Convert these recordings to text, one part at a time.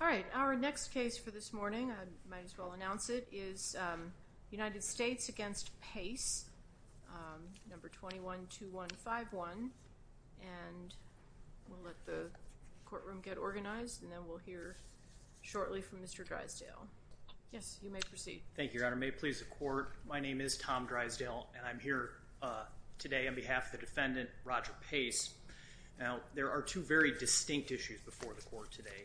All right, our next case for this morning, I might as well announce it, is United States against Pace, number 212151, and we'll let the courtroom get organized, and then we'll hear shortly from Mr. Drysdale. Yes, you may proceed. Thank you, Your Honor. May it please the Court, my name is Tom Drysdale, and I'm here today on behalf of the defendant, Roger Pace. Now, there are two very distinct issues before the Court today.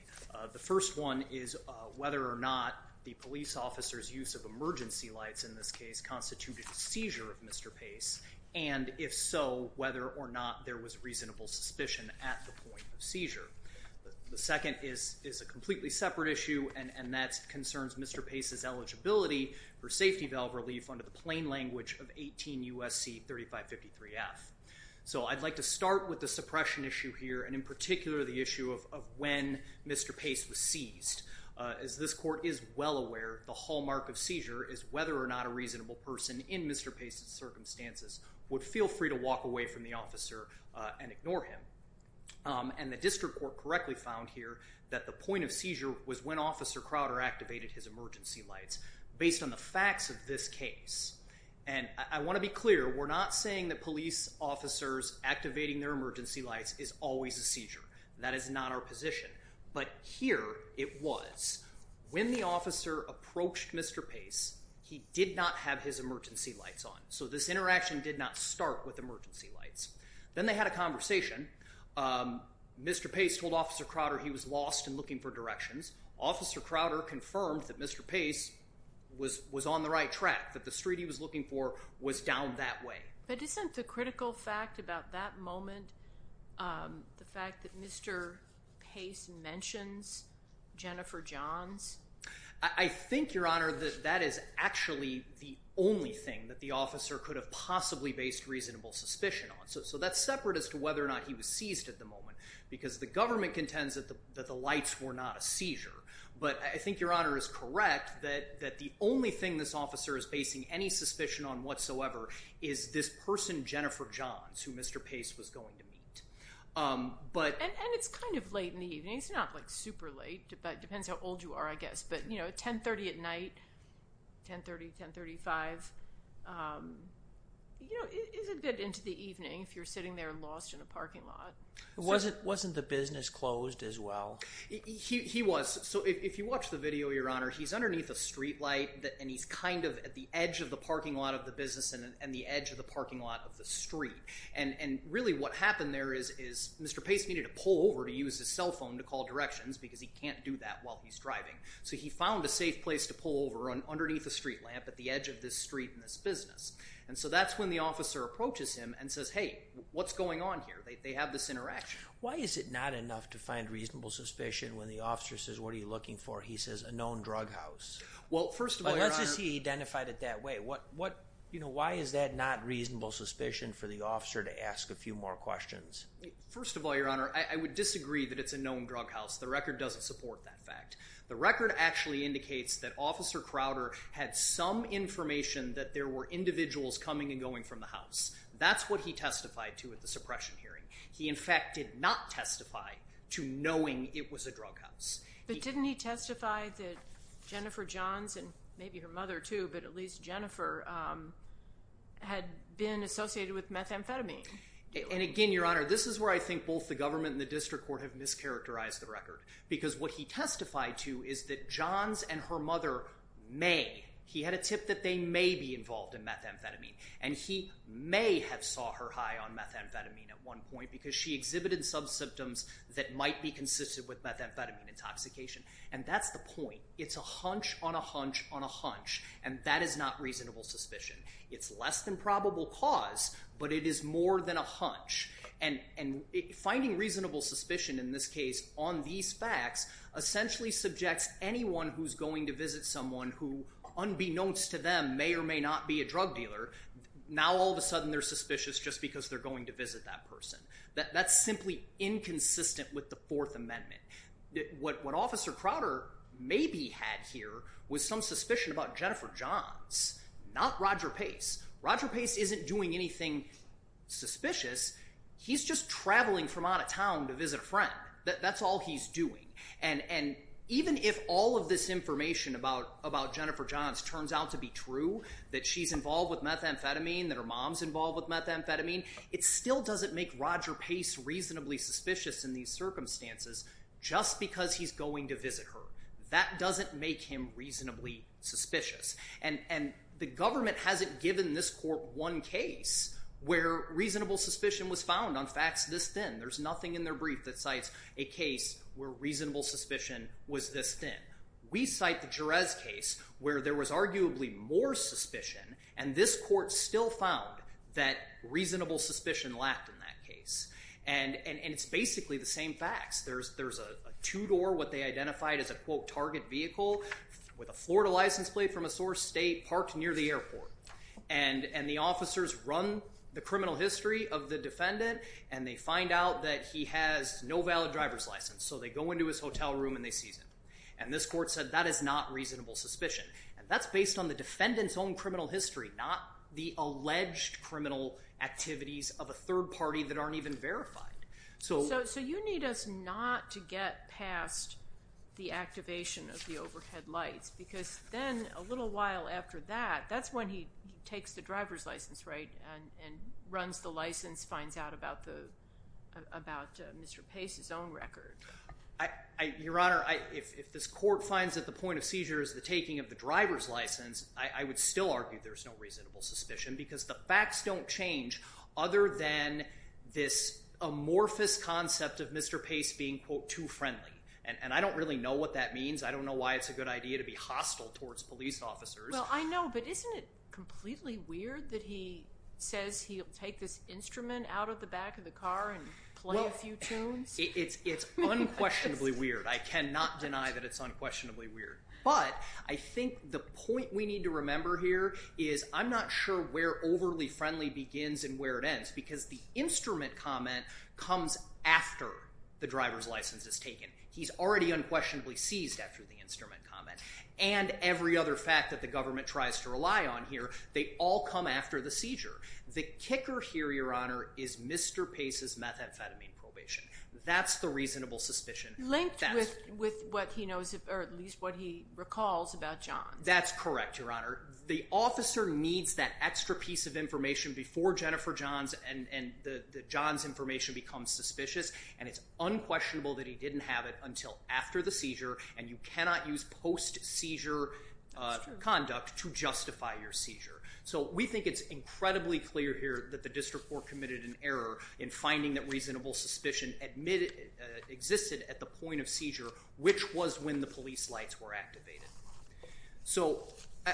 The first one is whether or not the police officer's use of emergency lights in this case constituted a seizure of Mr. Pace, and if so, whether or not there was reasonable suspicion at the point of seizure. The second is a completely separate issue, and that concerns Mr. Pace's eligibility for safety valve relief under the plain language of 18 U.S.C. 3553F. So I'd like to start with the suppression issue here, and in particular the issue of when Mr. Pace was seized. As this Court is well aware, the hallmark of seizure is whether or not a reasonable person in Mr. Pace's circumstances would feel free to walk away from the officer and ignore him. And the District Court correctly found here that the point of seizure was when Officer Crowder activated his emergency lights, based on the facts of this case. And I want to be clear, we're not saying that police officers activating their emergency lights is always a seizure. That is not our position. But here it was. When the officer approached Mr. Pace, he did not have his emergency lights on. So this interaction did not start with emergency lights. Then they had a conversation. Mr. Pace told Officer Crowder he was lost and looking for directions. Officer Crowder confirmed that Mr. Pace was on the right track, that the street he was looking for was down that street. Is there any additional fact about that moment, the fact that Mr. Pace mentions Jennifer Johns? I think, Your Honor, that that is actually the only thing that the officer could have possibly based reasonable suspicion on. So that's separate as to whether or not he was seized at the moment, because the government contends that the lights were not a seizure. But I think Your Honor is correct that the only thing this officer is basing any suspicion on whatsoever is this person, Jennifer Johns, who Mr. Pace was going to meet. And it's kind of late in the evening. It's not like super late, but it depends how old you are, I guess. But, you know, 1030 at night, 1030, 1035, you know, isn't good into the evening if you're sitting there lost in a parking lot. Wasn't the business closed as well? He was. So if you watch the video, Your Honor, he's underneath a street light and he's kind of at the edge of the parking lot of the business and the edge of the parking lot of the street. And really what happened there is Mr. Pace needed to pull over to use his cell phone to call directions because he can't do that while he's driving. So he found a safe place to pull over underneath a street lamp at the edge of this street in this business. And so that's when the officer approaches him and says, hey, what's going on here? They have this interaction. Why is it not enough to find reasonable suspicion when the officer says, what are you looking for? He says a known drug house. Well, first of all, Your Honor, why is that not reasonable suspicion for the officer to ask a few more questions? First of all, Your Honor, I would disagree that it's a known drug house. The record doesn't support that fact. The record actually indicates that Officer Crowder had some information that there were individuals coming and going from the house. That's what he testified to at the suppression hearing. He, in fact, did not testify to knowing it was a drug house. But didn't he testify that Jennifer Johns and maybe her mother, too, but at least Jennifer, had been associated with methamphetamine? And again, Your Honor, this is where I think both the government and the district court have mischaracterized the record. Because what he testified to is that Johns and her mother may, he had a tip that they may be involved in methamphetamine. And he may have saw her high on methamphetamine at one point because she exhibited some symptoms that might be consistent with methamphetamine intoxication. And that's the point. It's a hunch on a hunch on a hunch. And that is not reasonable suspicion. It's less than probable cause, but it is more than a hunch. And finding reasonable suspicion, in this case, on these facts, essentially subjects anyone who's going to visit someone who, unbeknownst to them, may or may not be a drug dealer, now all of a sudden they're a methamphetamine person. That's simply inconsistent with the Fourth Amendment. What Officer Crowder maybe had here was some suspicion about Jennifer Johns, not Roger Pace. Roger Pace isn't doing anything suspicious. He's just traveling from out of town to visit a friend. That's all he's doing. And even if all of this information about Jennifer Johns turns out to be true, that she's involved with methamphetamine, that her mom's involved with methamphetamine, it still doesn't make Roger Pace reasonably suspicious in these circumstances just because he's going to visit her. That doesn't make him reasonably suspicious. And the government hasn't given this court one case where reasonable suspicion was found on facts this thin. There's nothing in their brief that cites a case where reasonable suspicion was this thin. We cite the Jerez case where there was arguably more suspicion, and this court still found that reasonable suspicion lacked in that case. And it's basically the same facts. There's a two-door, what they identified as a, quote, target vehicle with a Florida license plate from a source state parked near the airport. And the officers run the criminal history of the defendant, and they find out that he has no valid driver's license. So they go into his hotel room and they seize him. And this court said that is not reasonable suspicion. And that's based on the defendant's own criminal history, not the alleged criminal activities of a third party that aren't even verified. So you need us not to get past the activation of the overhead lights, because then a little while after that, that's when he takes the driver's license, right, and runs the license, finds out about Mr. Pace's own record. Your driver's license, I would still argue there's no reasonable suspicion, because the facts don't change other than this amorphous concept of Mr. Pace being, quote, too friendly. And I don't really know what that means. I don't know why it's a good idea to be hostile towards police officers. Well, I know, but isn't it completely weird that he says he'll take this instrument out of the back of the car and play a few tunes? It's unquestionably weird. I cannot deny that it's unquestionably weird. But I think the point we need to remember here is I'm not sure where overly friendly begins and where it ends, because the instrument comment comes after the driver's license is taken. He's already unquestionably seized after the instrument comment. And every other fact that the government tries to rely on here, they all come after the seizure. The kicker here, Your Honor, is Mr. Pace's methamphetamine probation. That's the reasonable suspicion. Linked with what he knows, or at least what he recalls about John. That's correct, Your Honor. The officer needs that extra piece of information before Jennifer John's and John's information becomes suspicious. And it's unquestionable that he didn't have it until after the seizure. And you cannot use post-seizure conduct to justify your seizure. So we think it's incredibly clear here that the district court committed an error in finding that reasonable suspicion existed at the point of seizure, which was when the police lights were activated. So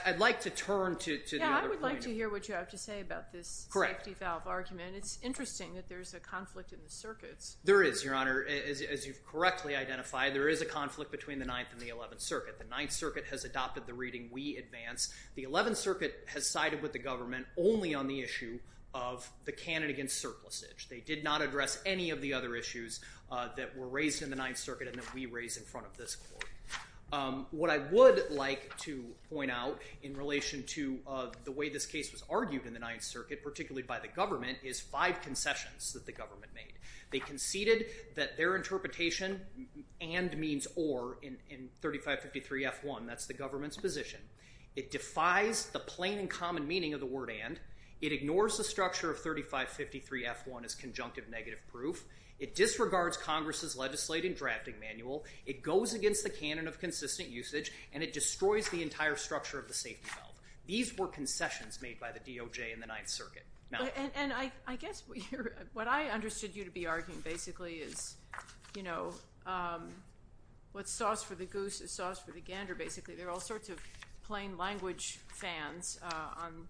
I'd like to turn to the other point. Yeah, I would like to hear what you have to say about this safety valve argument. It's interesting that there's a conflict in the circuits. There is, Your Honor. As you've correctly identified, there is a conflict between the Ninth and the Eleventh Circuit. The Ninth Circuit has adopted the reading, we advance. The Eleventh Circuit has sided with the government only on the issue of the cannon against surplusage. They did not address any of the other issues that were raised in the Ninth Circuit and that we raise in front of this court. What I would like to point out in relation to the way this case was argued in the Ninth Circuit, particularly by the government, is five concessions that the government made. They conceded that their interpretation and means or in 3553 F1, that's the government's position. It defies the plain and common meaning of the word and. It ignores the structure of 3553 F1 as conjunctive negative proof. It disregards Congress's legislative drafting manual. It goes against the canon of consistent usage and it destroys the entire structure of the safety valve. These were concessions made by the DOJ in the Ninth Circuit. And I guess what I understood you to be arguing basically is, you know, what's sauce for the plain language fans on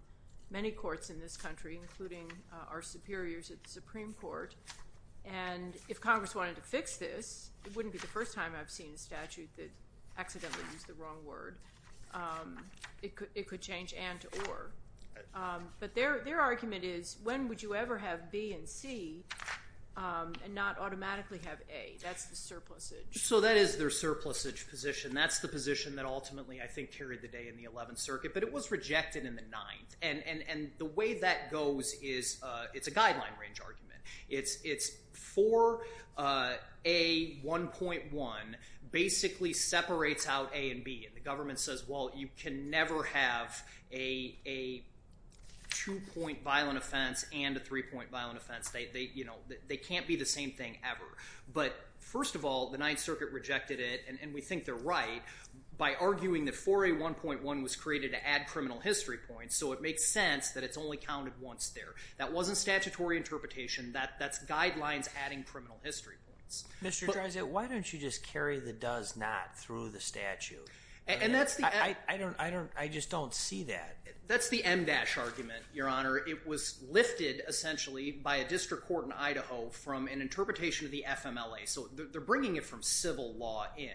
many courts in this country, including our superiors at the Supreme Court. And if Congress wanted to fix this, it wouldn't be the first time I've seen a statute that accidentally used the wrong word. It could change and to or. But their argument is when would you ever have B and C and not automatically have A. That's the surplusage. So that is their surplusage position. That's the position that ultimately, I think, carried the day in the Eleventh Circuit, but it was rejected in the Ninth. And the way that goes is it's a guideline range argument. It's 4A1.1 basically separates out A and B. And the government says, well, you can never have a two-point violent offense and a three-point violent offense. They can't be the same thing ever. But first of all, the Ninth Circuit rejected it and we think they're right by arguing that 4A1.1 was created to add criminal history points. So it makes sense that it's only counted once there. That wasn't statutory interpretation. That's guidelines adding criminal history points. Mr. Dreisand, why don't you just carry the does not through the statute? I just don't see that. That's the MDASH argument, Your Honor. It was lifted, essentially, by a district court in Idaho from an interpretation of the FMLA. So they're bringing it from civil law in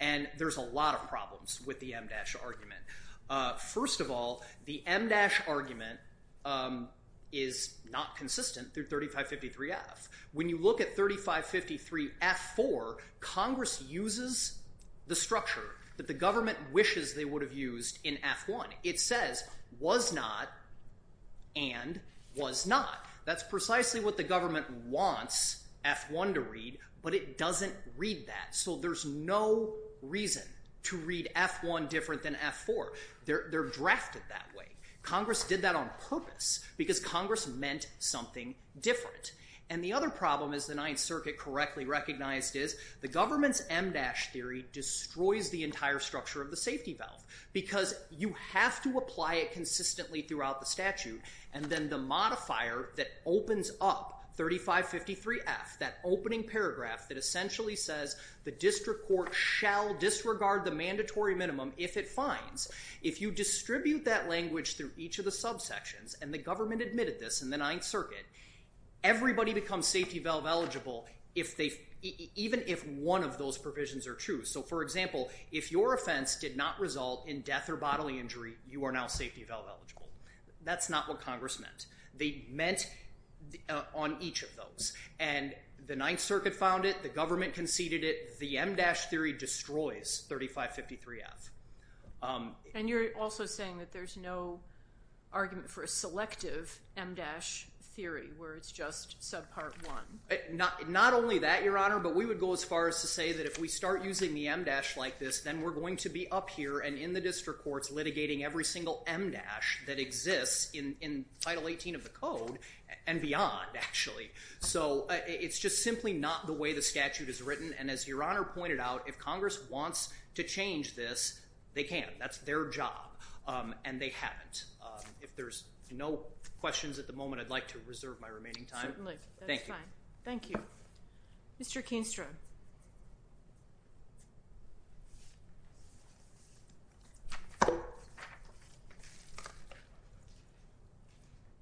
and there's a lot of problems with the MDASH argument. First of all, the MDASH argument is not consistent through 3553F. When you look at 3553F4, Congress uses the structure that the government wishes they would have used in F1. It says, was not and was not. That's precisely what the government wants F1 to read, but it doesn't read that. So there's no reason to read F1 different than F4. They're drafted that way. Congress did that on purpose because Congress meant something different. And the other problem, as the Ninth Circuit correctly recognized, is the government's MDASH theory destroys the entire structure of the safety valve because you have to apply it consistently throughout the statute. And then the modifier that opens up 3553F, that opening paragraph that essentially says the district court shall disregard the mandatory minimum if it finds, if you distribute that language through each of the subsections and the government admitted this in the Ninth Circuit, everybody becomes safety valve eligible if they, even if one of those provisions are true. So for example, if your offense did not result in death or bodily injury, you are now safety valve eligible. That's not what Congress meant. They meant on each of those. And the Ninth Circuit found it, the government conceded it, the MDASH theory destroys 3553F. And you're also saying that there's no argument for a selective MDASH theory where it's just subpart one. Not only that, Your Honor, but we would go as far as to say that if we start using the MDASH like this, then we're going to be up here and in the district courts litigating every single MDASH that exists in Title 18 of the code and beyond, actually. So it's just simply not the way the statute is written. And as Your Honor pointed out, if Congress wants to change this, they can. That's their job. And they haven't. If there's no questions at the moment, I'd like to reserve my remaining time. Thank you. Thank you. Mr. Keenstrom.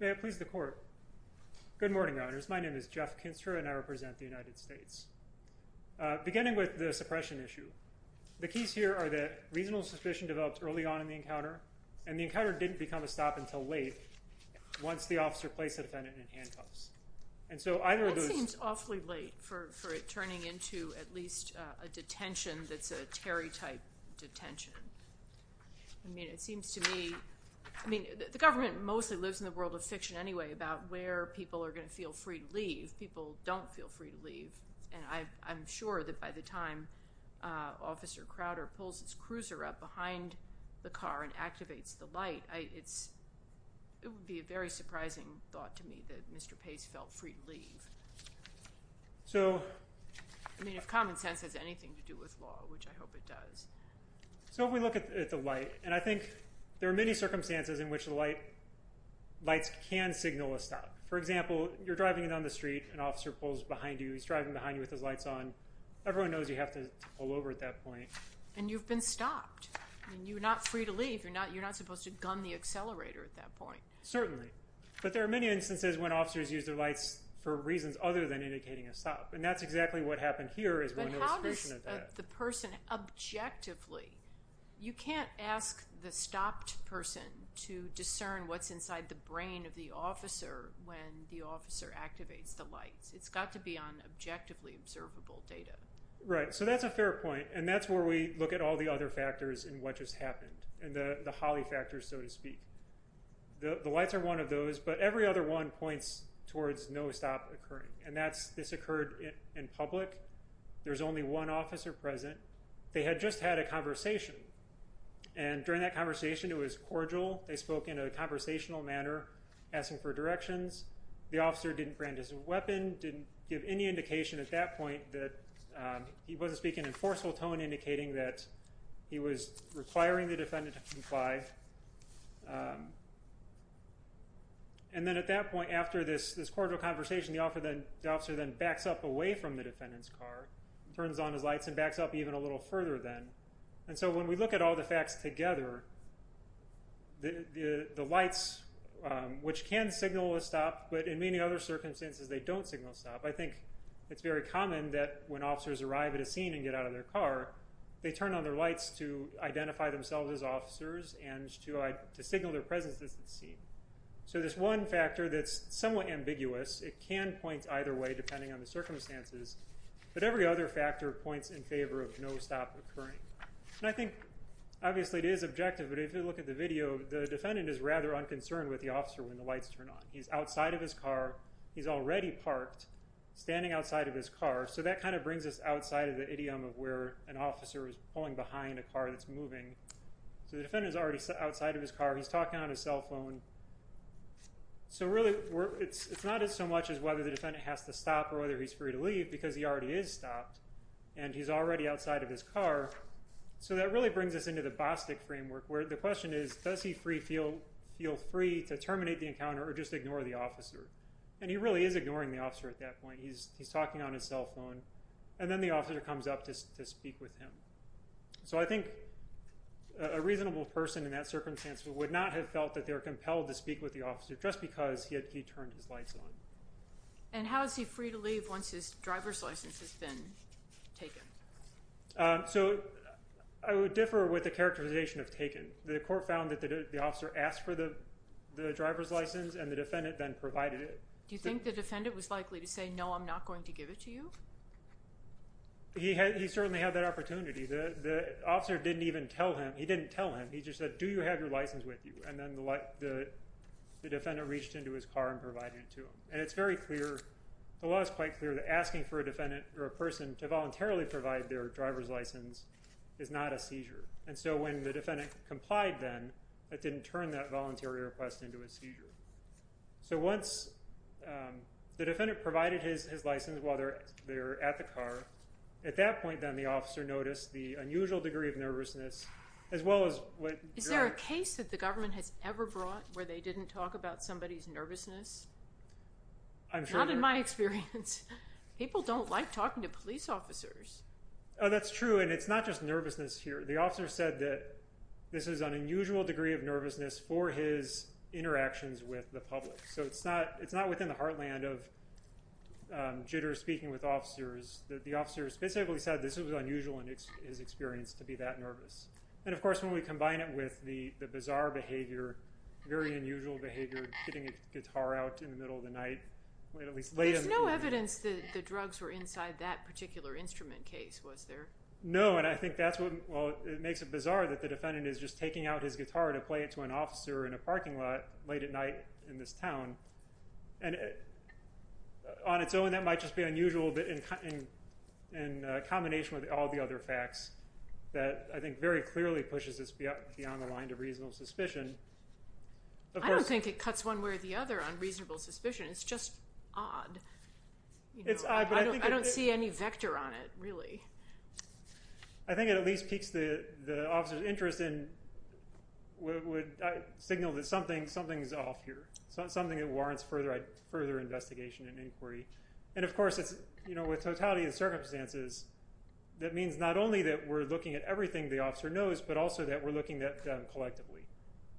May it please the Court. Good morning, Your Honors. My name is Jeff Keenstrom, and I represent the United States. Beginning with the suppression issue, the keys here are that reasonable suspicion developed early on in the encounter, and the encounter didn't become a stop until late once the officer placed the defendant in handcuffs. And so either of those... That seems awfully late for it turning into at least a detention that's a Terry-type detention. I mean, it seems to me... I mean, the government mostly lives in the world of fiction anyway, about where people are going to feel free to leave. People don't feel free to leave, and I'm sure that by the time Officer Crowder pulls his cruiser up behind the car and activates the light, it would be a very surprising thought to me that Mr. Pace felt free to leave. I mean, if common sense has anything to do with law, which I hope it does. So if we look at the light, and I think there are many circumstances in which the lights can signal a stop. For example, you're driving down the street, an officer pulls behind you, he's driving behind you with his lights on. Everyone knows you have to pull over at that point. And you've been stopped. You're not free to leave. You're not supposed to gun the accelerator at that point. Certainly. But there are many instances when officers use their lights for reasons other than indicating a stop. And that's exactly what happened here is one illustration of that. But how does the person objectively... You can't ask the stopped person to discern what's inside the brain of the officer when the officer activates the lights. It's got to be on objectively observable data. Right. So that's a fair point. And that's where we look at all the other factors in what just happened, and the Holley factors, so to speak. The lights are one of those, but every other one points towards no stop occurring. And that's, this occurred in public. There's only one officer present. They had just had a conversation. And during that conversation, it was cordial. They spoke in a conversational manner, asking for directions. The officer didn't brandish a weapon, didn't give any indication at that point that he wasn't speaking in a forceful tone indicating that he was requiring the defendant to comply. And then at that point, after this cordial conversation, the officer then backs up away from the defendant's car, turns on his lights, and backs up even a little further then. And so when we look at all the facts together, the lights, which can signal a stop, but in any other circumstances, they don't signal a stop. I think it's very common that when officers arrive at a scene and get out of their car, they turn on their lights to identify themselves as officers and to signal their presence at the scene. So there's one factor that's somewhat ambiguous. It can point either way depending on the circumstances. But every other factor points in favor of no stop occurring. And I think obviously it is objective, but if you look at the video, the defendant is rather unconcerned with the car. He's already parked, standing outside of his car. So that kind of brings us outside of the idiom of where an officer is pulling behind a car that's moving. So the defendant is already outside of his car. He's talking on his cell phone. So really, it's not as so much as whether the defendant has to stop or whether he's free to leave, because he already is stopped. And he's already outside of his car. So that really brings us into the Bostic framework, where the question is, does he feel free to leave? And he really is ignoring the officer at that point. He's talking on his cell phone. And then the officer comes up to speak with him. So I think a reasonable person in that circumstance would not have felt that they were compelled to speak with the officer just because he had turned his lights on. And how is he free to leave once his driver's license has been taken? So I would differ with the characterization of taken. The court found that the officer asked for the driver's license, and the defendant then provided it. Do you think the defendant was likely to say, no, I'm not going to give it to you? He certainly had that opportunity. The officer didn't even tell him. He didn't tell him. He just said, do you have your license with you? And then the defendant reached into his car and provided it to him. And it's very clear, the law is quite clear that asking for a defendant or a person to voluntarily provide their driver's license is not a seizure. And so when the defendant complied then, it didn't turn that voluntary request into a seizure. So once the defendant provided his license while they were at the car, at that point then the officer noticed the unusual degree of nervousness, as well as what... Is there a case that the government has ever brought where they didn't talk about somebody's nervousness? I'm sure... Not in my experience. People don't like talking to police officers. Oh, that's true. And it's not just nervousness here. The officer said that this is an unusual degree of nervousness for his interactions with the public. So it's not within the heartland of jitters speaking with officers. The officer specifically said this was unusual in his experience to be that nervous. And of course, when we combine it with the bizarre behavior, very unusual behavior, getting a guitar out in the middle of the night, at least late in the evening... No, and I think that's what... Well, it makes it bizarre that the defendant is just taking out his guitar to play it to an officer in a parking lot late at night in this town. And on its own, that might just be unusual, but in combination with all the other facts that I think very clearly pushes this beyond the line of reasonable suspicion. I don't think it cuts one way or the other on reasonable suspicion. It's just odd. I don't see any vector on it, really. I think it at least piques the officer's interest and would signal that something's off here. Something that warrants further investigation and inquiry. And of course, with totality of circumstances, that means not only that we're looking at everything the officer knows, but also that we're looking at them collectively.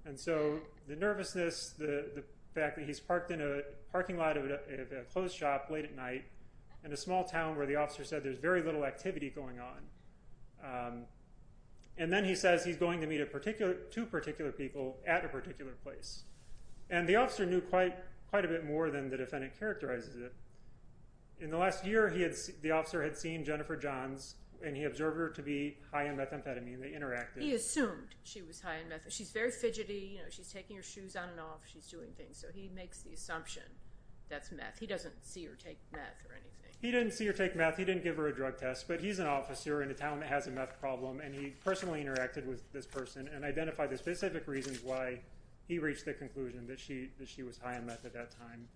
And so the nervousness, the fact that he's parked in a parking lot of a closed shop late at night in a small town where the officer said there's very little activity going on. And then he says he's going to meet two particular people at a particular place. And the officer knew quite a bit more than the defendant characterizes it. In the last year, the officer had seen Jennifer Johns and he observed her to be high on methamphetamine. They interacted. He assumed she was high on methamphetamine. She's very fidgety. She's taking her shoes on and off. She's doing things. So he makes the assumption that's meth. He doesn't see or take meth or anything. He didn't see or take meth. He didn't give her a drug test, but he's an officer in a town that has a meth problem. And he personally interacted with this person and identified the specific reasons why he reached the conclusion that she that she was high on meth at that time.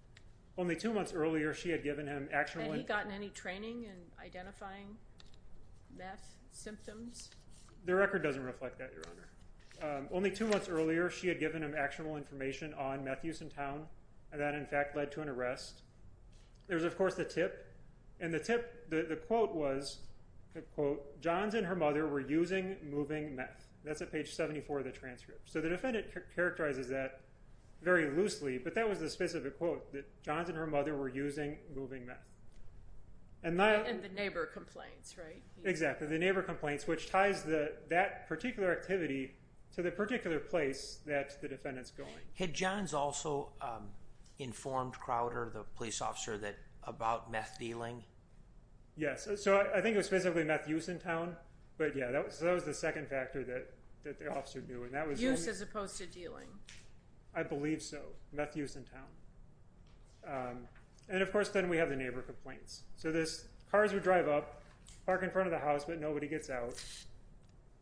Only two months earlier, she had given him actually gotten any training in identifying meth symptoms. The record doesn't reflect that, Your Honor. Only two months earlier, she had given him actual information on meth use in town. And that, in fact, led to an arrest. There's, of course, the tip. And the tip, the quote was, quote, Johns and her mother were using moving meth. That's at page 74 of the transcript. So the defendant characterizes that very loosely. But that was the specific quote, that Johns and her mother were using moving meth. And the neighbor complains, right? Exactly. The neighbor complains, which ties that particular activity to the particular place that the defendant's going. Had Johns also informed Crowder, the police officer, about meth dealing? Yes. So I think it was specifically meth use in town. But yeah, that was the second factor that the officer knew. Use as opposed to dealing. I believe so. Meth use in town. And of course, then we have the neighbor complaints. So this, a man comes out of the house, but nobody gets out.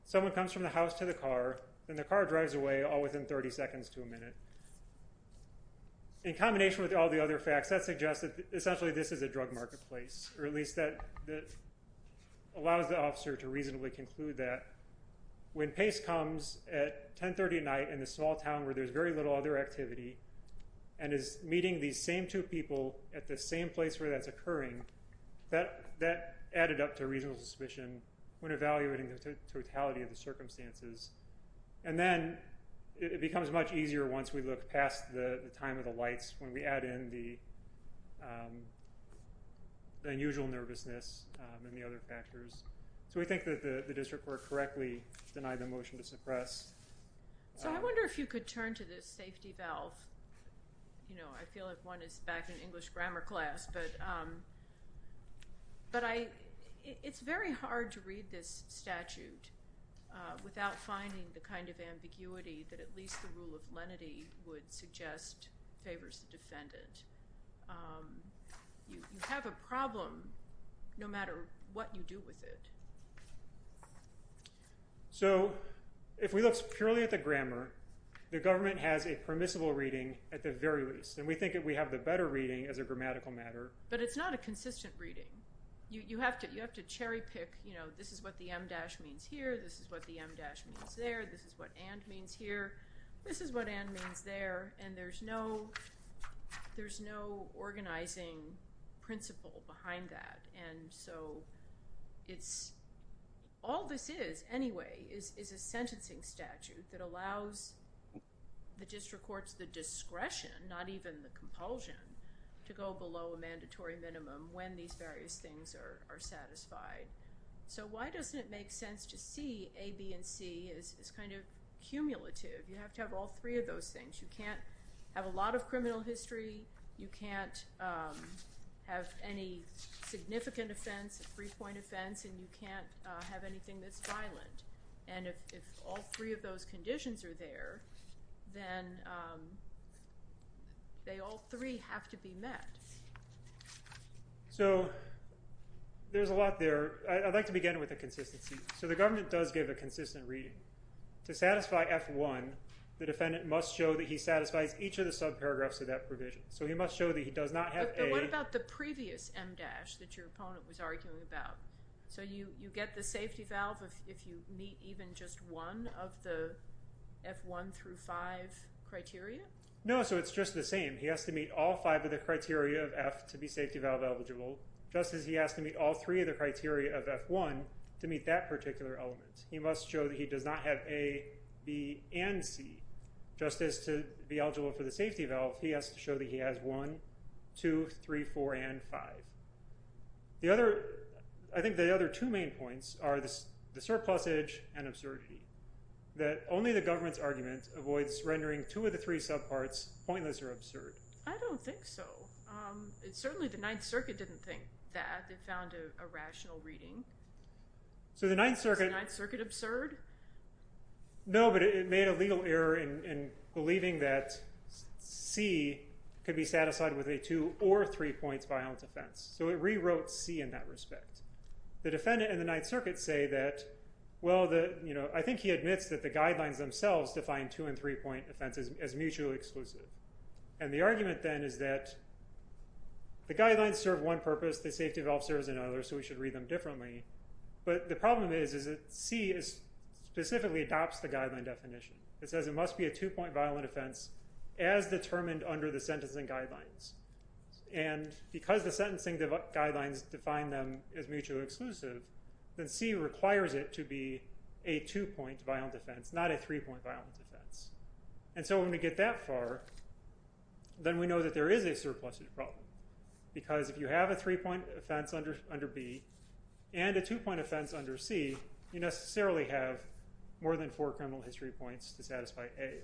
Someone comes from the house to the car, and the car drives away, all within 30 seconds to a minute. In combination with all the other facts, that suggests that essentially this is a drug marketplace, or at least that allows the officer to reasonably conclude that. When Pace comes at 1030 at night in a small town where there's very little other activity, and is meeting these same two people at the same place where that's occurring, that added up to a reasonable suspicion when evaluating the totality of the circumstances. And then it becomes much easier once we look past the time of the lights when we add in the unusual nervousness and the other factors. So we think that the district court correctly denied the motion to suppress. So I wonder if you could turn to this safety valve. I feel like one is back in English grammar class. But it's very hard to read this statute without finding the kind of ambiguity that at least the rule of lenity would suggest favors the defendant. You have a problem no matter what you do with it. So if we look purely at the grammar, the government has a permissible reading at the very least. And we think that we have the better reading as a grammatical matter. But it's not a consistent reading. You have to cherry pick, you know, this is what the em dash means here, this is what the em dash means there, this is what and means here, this is what and means there. And there's no organizing principle behind that. And so all this is anyway is a sentencing statute that allows the district courts the discretion, not even the compulsion, to go below a mandatory minimum when these various things are satisfied. So why doesn't it make sense to see A, B, and C as kind of cumulative? You have to have all three of those things. You can't have a lot of criminal history, you can't have any significant offense, three-point offense, and you can't have anything that's violent. And if all three of those conditions are there, then they all three have to be met. So there's a lot there. I'd like to begin with the consistency. So the government does give a consistent reading. To satisfy F1, the defendant must show that he satisfies each of the subparagraphs of that provision. So he must show that he does not have A. But what about the previous em dash that your opponent was arguing about? So you get the meet even just one of the F1 through five criteria? No, so it's just the same. He has to meet all five of the criteria of F to be safety valve eligible, just as he has to meet all three of the criteria of F1 to meet that particular element. He must show that he does not have A, B, and C. Just as to be eligible for the safety valve, he has to show that he has one, two, three, four, and five. I think the other two main points are the surplusage, and absurdity. That only the government's argument avoids rendering two of the three subparts pointless or absurd. I don't think so. It's certainly the Ninth Circuit didn't think that. They found a rational reading. So the Ninth Circuit... Is the Ninth Circuit absurd? No, but it made a legal error in believing that C could be satisfied with a two or three points violent offense. So it rewrote C in that respect. The defendant and the Ninth Circuit... I think he admits that the guidelines themselves define two and three point offenses as mutually exclusive. And the argument then is that the guidelines serve one purpose, the safety valve serves another, so we should read them differently. But the problem is that C specifically adopts the guideline definition. It says it must be a two point violent offense as determined under the sentencing guidelines. And because the sentencing guidelines define them as mutually exclusive, then C requires it to be a two point violent offense, not a three point violent offense. And so when we get that far, then we know that there is a surplusage problem. Because if you have a three point offense under B, and a two point offense under C, you necessarily have more than four criminal history points to satisfy A.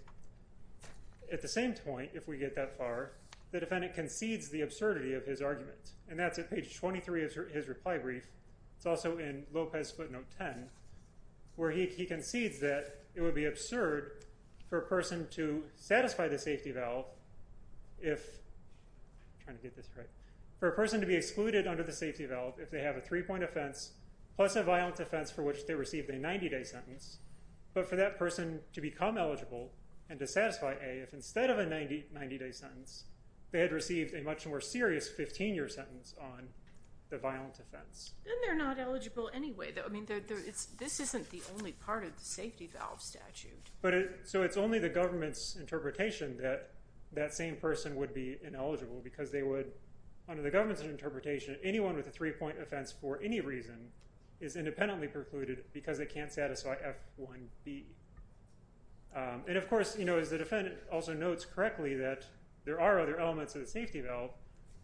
At the same point, if we get that far, the defendant concedes the absurdity of his reply brief. It's also in Lopez footnote 10, where he concedes that it would be absurd for a person to satisfy the safety valve if... I'm trying to get this right. For a person to be excluded under the safety valve if they have a three point offense, plus a violent offense for which they received a 90 day sentence, but for that person to become eligible and to satisfy A if instead of a 90 day sentence, they had received a much more serious 15 year sentence on the violent offense. And they're not eligible anyway. I mean, this isn't the only part of the safety valve statute. So it's only the government's interpretation that that same person would be ineligible because they would, under the government's interpretation, anyone with a three point offense for any reason is independently precluded because they can't satisfy F1B. And of course, as the defendant also notes correctly, that there are other elements of the safety valve,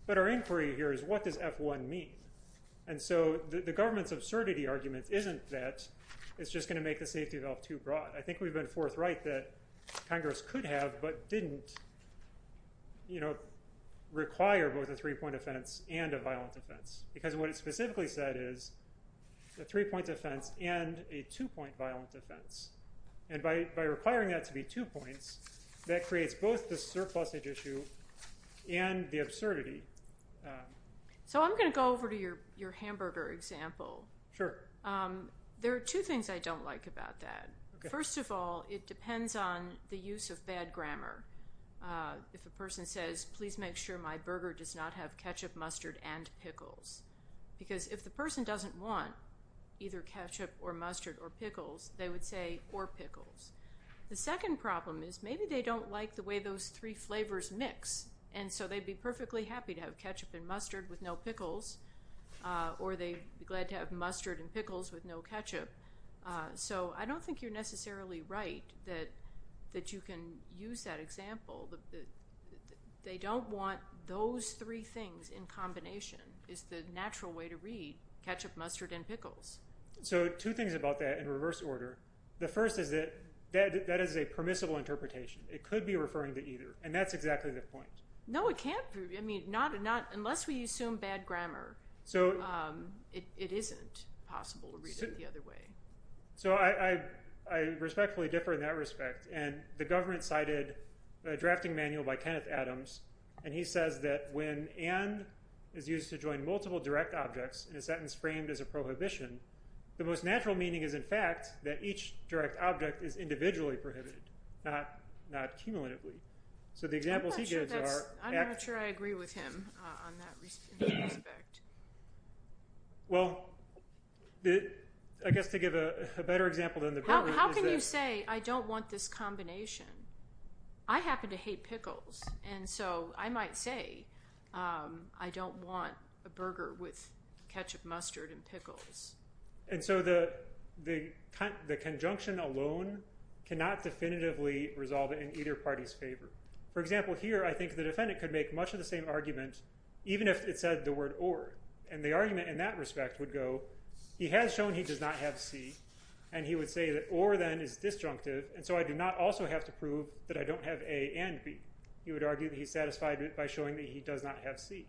but our inquiry here is what does F1 mean? And so the government's absurdity argument isn't that it's just going to make the safety valve too broad. I think we've been forthright that Congress could have, but didn't require both a three point offense and a violent offense. Because what it specifically said is a three point offense and a two point violent offense. And by requiring that to be two points, that creates both the surplus issue and the absurdity. So I'm going to go over to your hamburger example. There are two things I don't like about that. First of all, it depends on the use of bad grammar. If a person says, please make sure my burger does not have ketchup, mustard, and pickles. Because if the person doesn't want either ketchup or mustard or pickles, they would say or pickles. The second problem is maybe they don't like the way those three flavors mix. And so they'd be perfectly happy to have ketchup and mustard with no pickles, or they'd be glad to have mustard and pickles with no ketchup. So I don't think you're necessarily right that you can use that example. They don't want those three things in combination, is the natural way to read ketchup, mustard, and pickles. So two things about that in reverse order. The first is that that is a permissible interpretation. It could be referring to either. And that's exactly the point. No, it can't be. I mean, unless we assume bad grammar, it isn't possible to read it the other way. So I respectfully differ in that respect. And the government cited a drafting manual by Kenneth Adams. And he says that when and is used to join multiple direct objects in a sentence framed as a prohibition, the most natural meaning is in fact that each direct object is individually prohibited, not cumulatively. So the examples he gives are. I'm not sure I agree with him on that respect. Well, I guess to give a better example than the problem is that. How can you say I don't want this combination? I happen to hate pickles. And so I might say I don't want a burger with ketchup, mustard, and pickles. And so the conjunction alone cannot definitively resolve it in either party's favor. For example, here I think the defendant could make much of the same argument even if it said the word or. And the argument in that respect would go, he has shown he does not have C. And he would say that or then is disjunctive. And so I do not also have to prove that I don't have A and B. He would argue that he's satisfied by showing that he does not have C.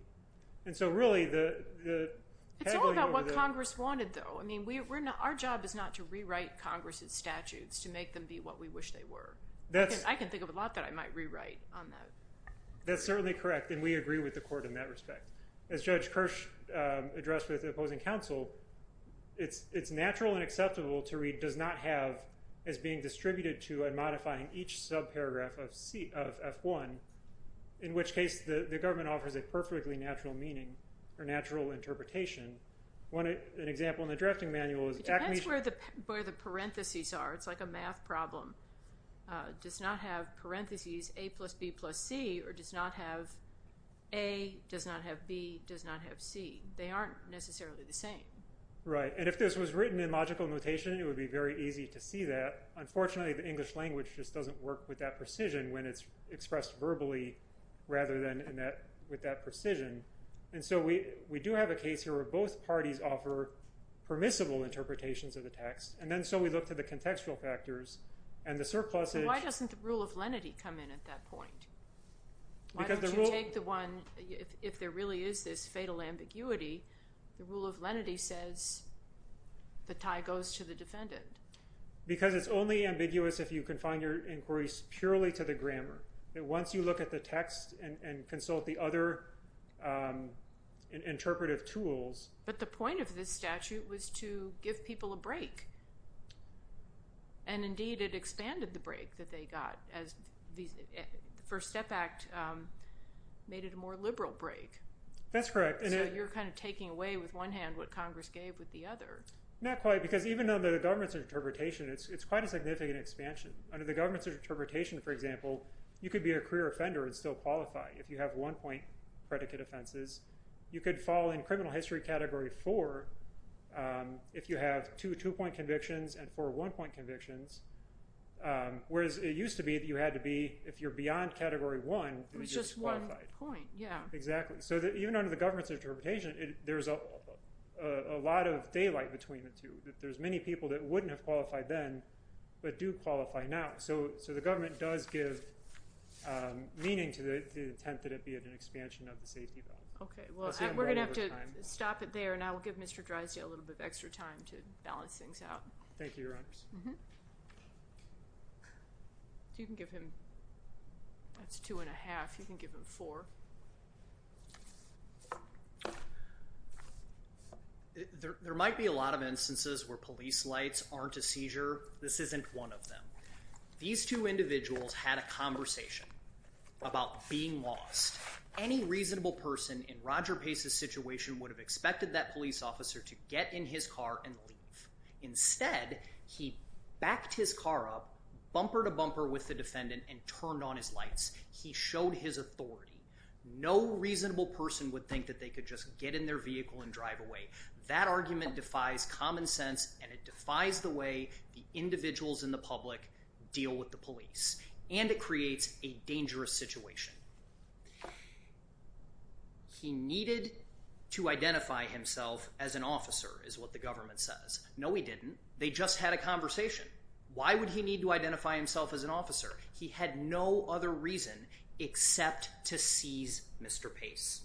And so really the. It's all about what Congress wanted though. I mean, our job is not to rewrite Congress's statutes to make them be what we wish they were. I can think of a lot that I might rewrite on that. That's certainly correct. And we agree with the court in that respect. As Judge Kirsch addressed with the opposing counsel, it's natural and acceptable to read does not have as being distributed to and modifying each subparagraph of F1, in which case the government offers a perfectly natural meaning or natural interpretation. One example in the drafting manual is. It depends where the parentheses are. It's like a math problem. Does not have parentheses A plus B plus C or does not have A, does not have B, does not have C. They aren't necessarily the same. Right. And if this was written in German, it would be very easy to see that. Unfortunately, the English language just doesn't work with that precision when it's expressed verbally rather than in that with that precision. And so we do have a case here where both parties offer permissible interpretations of the text. And then so we look to the contextual factors and the surplus. Why doesn't the rule of lenity come in at that point? Why don't you take the one if there really is this fatal ambiguity, the rule of lenity says the tie goes to the defendant. Because it's only ambiguous if you confine your inquiries purely to the grammar. Once you look at the text and consult the other interpretive tools. But the point of this statute was to give people a break. And indeed, it expanded the break that they got as the First Step Act made it a more liberal break. That's correct. So you're kind of taking away with one hand what Congress gave with the other. Not quite, because even though the government's interpretation, it's quite a significant expansion. Under the government's interpretation, for example, you could be a career offender and still qualify if you have one point predicate offenses. You could fall in criminal history category four if you have two two-point convictions and four one-point convictions. Whereas it used to be that you had to be, if you're beyond category one, you'd be disqualified. It was just one point, yeah. Exactly. So even under the government's interpretation, there's a lot of daylight between the two. There's many people that wouldn't have qualified then but do qualify now. So the government does give meaning to the intent that it be an expansion of the safety balance. Okay, well, we're going to have to stop it there and I will give Mr. Drysdale a little bit of extra time to balance things out. Thank you, Your Honors. You can give him, that's two and a half, you can give him four. There might be a lot of instances where police lights aren't a seizure. This isn't one of them. These two individuals had a conversation about being lost. Any reasonable person in Roger Pace's situation would have expected that police officer to get in his car and leave. Instead, he backed his car up, bumper to bumper with the defendant and turned on his lights. He showed his authority. No reasonable person would think that they could just get in their vehicle and drive away. That argument defies common sense and it defies the way the individuals in the public deal with the police and it creates a dangerous situation. He needed to identify himself as an officer is what the government says. No, he didn't. They just had a conversation. Why would he need to identify himself as an officer? He had no other reason except to seize Mr. Pace.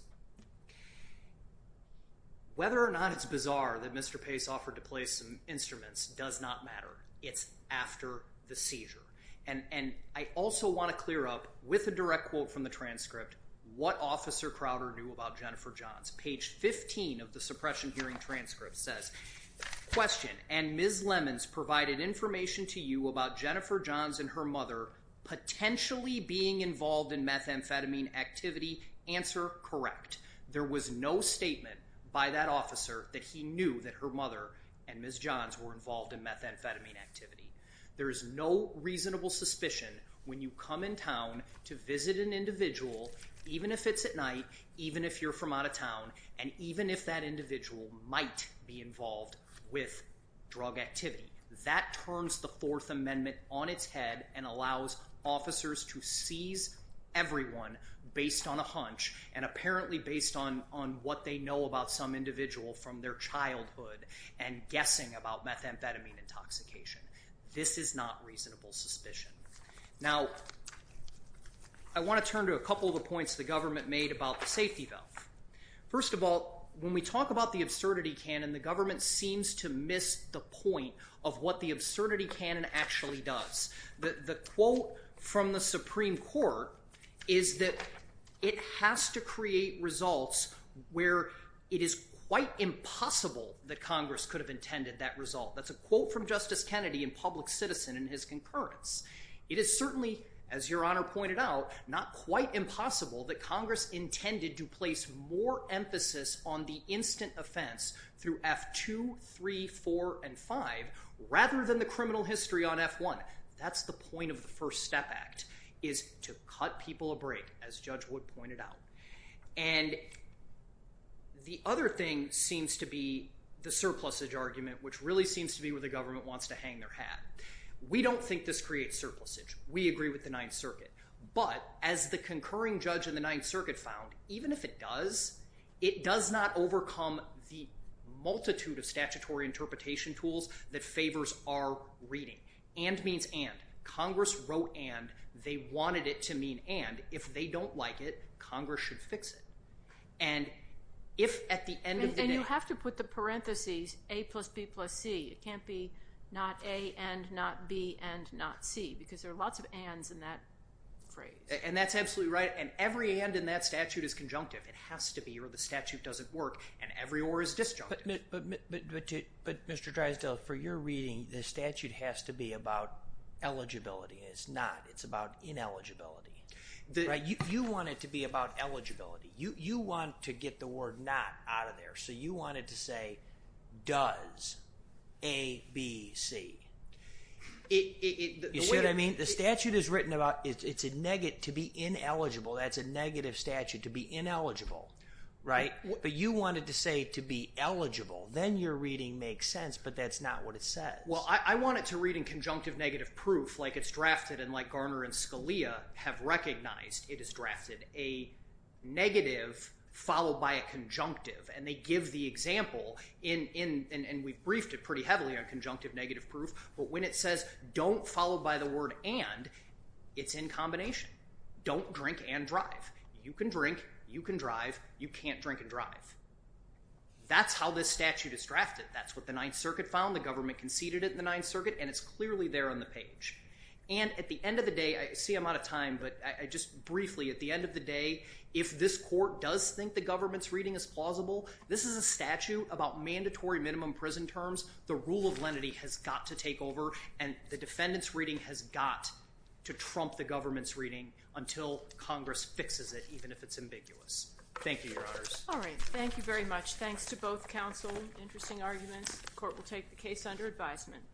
Whether or not it's bizarre that Mr. Pace offered to play some instruments does not matter. It's after the seizure. And I also want to clear up with a direct quote from the transcript what officer Crowder knew about Jennifer Johns. Page 15 of the suppression hearing transcript says, question and Ms. Lemons provided information to you about Jennifer Johns and her mother potentially being involved in methamphetamine activity. Answer, correct. There was no statement by that officer that he knew that her mother and Ms. Johns were involved in methamphetamine activity. There is no reasonable suspicion when you come in town to visit an individual, even if it's at night, even if you're from out of town, and even if that individual might be involved with drug activity that turns the fourth amendment on its head and allows officers to seize everyone based on a hunch and apparently based on on what they know about some individual from their childhood and guessing about methamphetamine intoxication. This is not reasonable suspicion. Now, I want to turn to a couple of the points the government made about the safety valve. First of all, when we talk about the absurdity canon, the government seems to miss the point of what the absurdity canon actually does. The quote from the Supreme Court is that it has to create results where it is quite impossible that Congress could have public citizen in his concurrence. It is certainly, as Your Honor pointed out, not quite impossible that Congress intended to place more emphasis on the instant offense through F2, 3, 4, and 5, rather than the criminal history on F1. That's the point of the First Step Act, is to cut people a break, as Judge Wood pointed out. And the other thing seems to be the surplusage argument, which really seems to be where the government wants to hang their hat. We don't think this creates surplusage. We agree with the Ninth Circuit, but as the concurring judge in the Ninth Circuit found, even if it does, it does not overcome the multitude of statutory interpretation tools that favors our reading. And means and. Congress wrote and. They wanted it to mean and. If they don't like it, Congress should fix it. And if at the end of the day... And you have to put the parentheses, A plus B plus C. It can't be not A and not B and not C, because there are lots of ands in that phrase. And that's absolutely right. And every and in that statute is conjunctive. It has to be, or the statute doesn't work. And every or is disjunctive. But Mr. Drysdale, for your reading, the statute has to be about eligibility. It's not. It's about ineligibility. You want it to be about eligibility. You want to get the word not out of there. So you want it to say, does. A, B, C. You see what I mean? The statute is written about, it's a negative, to be ineligible. That's a negative statute, to be ineligible. Right? But you wanted to say, to be eligible. Then your reading makes sense, but that's not what it says. Well, I want it to read in conjunctive negative proof, like it's drafted and like Garner and Scalia have recognized, it is drafted a negative followed by a conjunctive. And they give the example in, and we've briefed it pretty heavily on conjunctive negative proof. But when it says, don't follow by the word and, it's in combination. Don't drink and drive. You can drink, you can drive, you can't drink and drive. That's how this statute is drafted. That's what the Ninth Circuit found. The government conceded it in the Ninth Circuit, and it's I'm out of time, but I just briefly, at the end of the day, if this court does think the government's reading is plausible, this is a statute about mandatory minimum prison terms. The rule of lenity has got to take over, and the defendant's reading has got to trump the government's reading until Congress fixes it, even if it's ambiguous. Thank you, Your Honors. All right. Thank you very much. Thanks to both counsel. Interesting arguments. The court will take the case under advisement.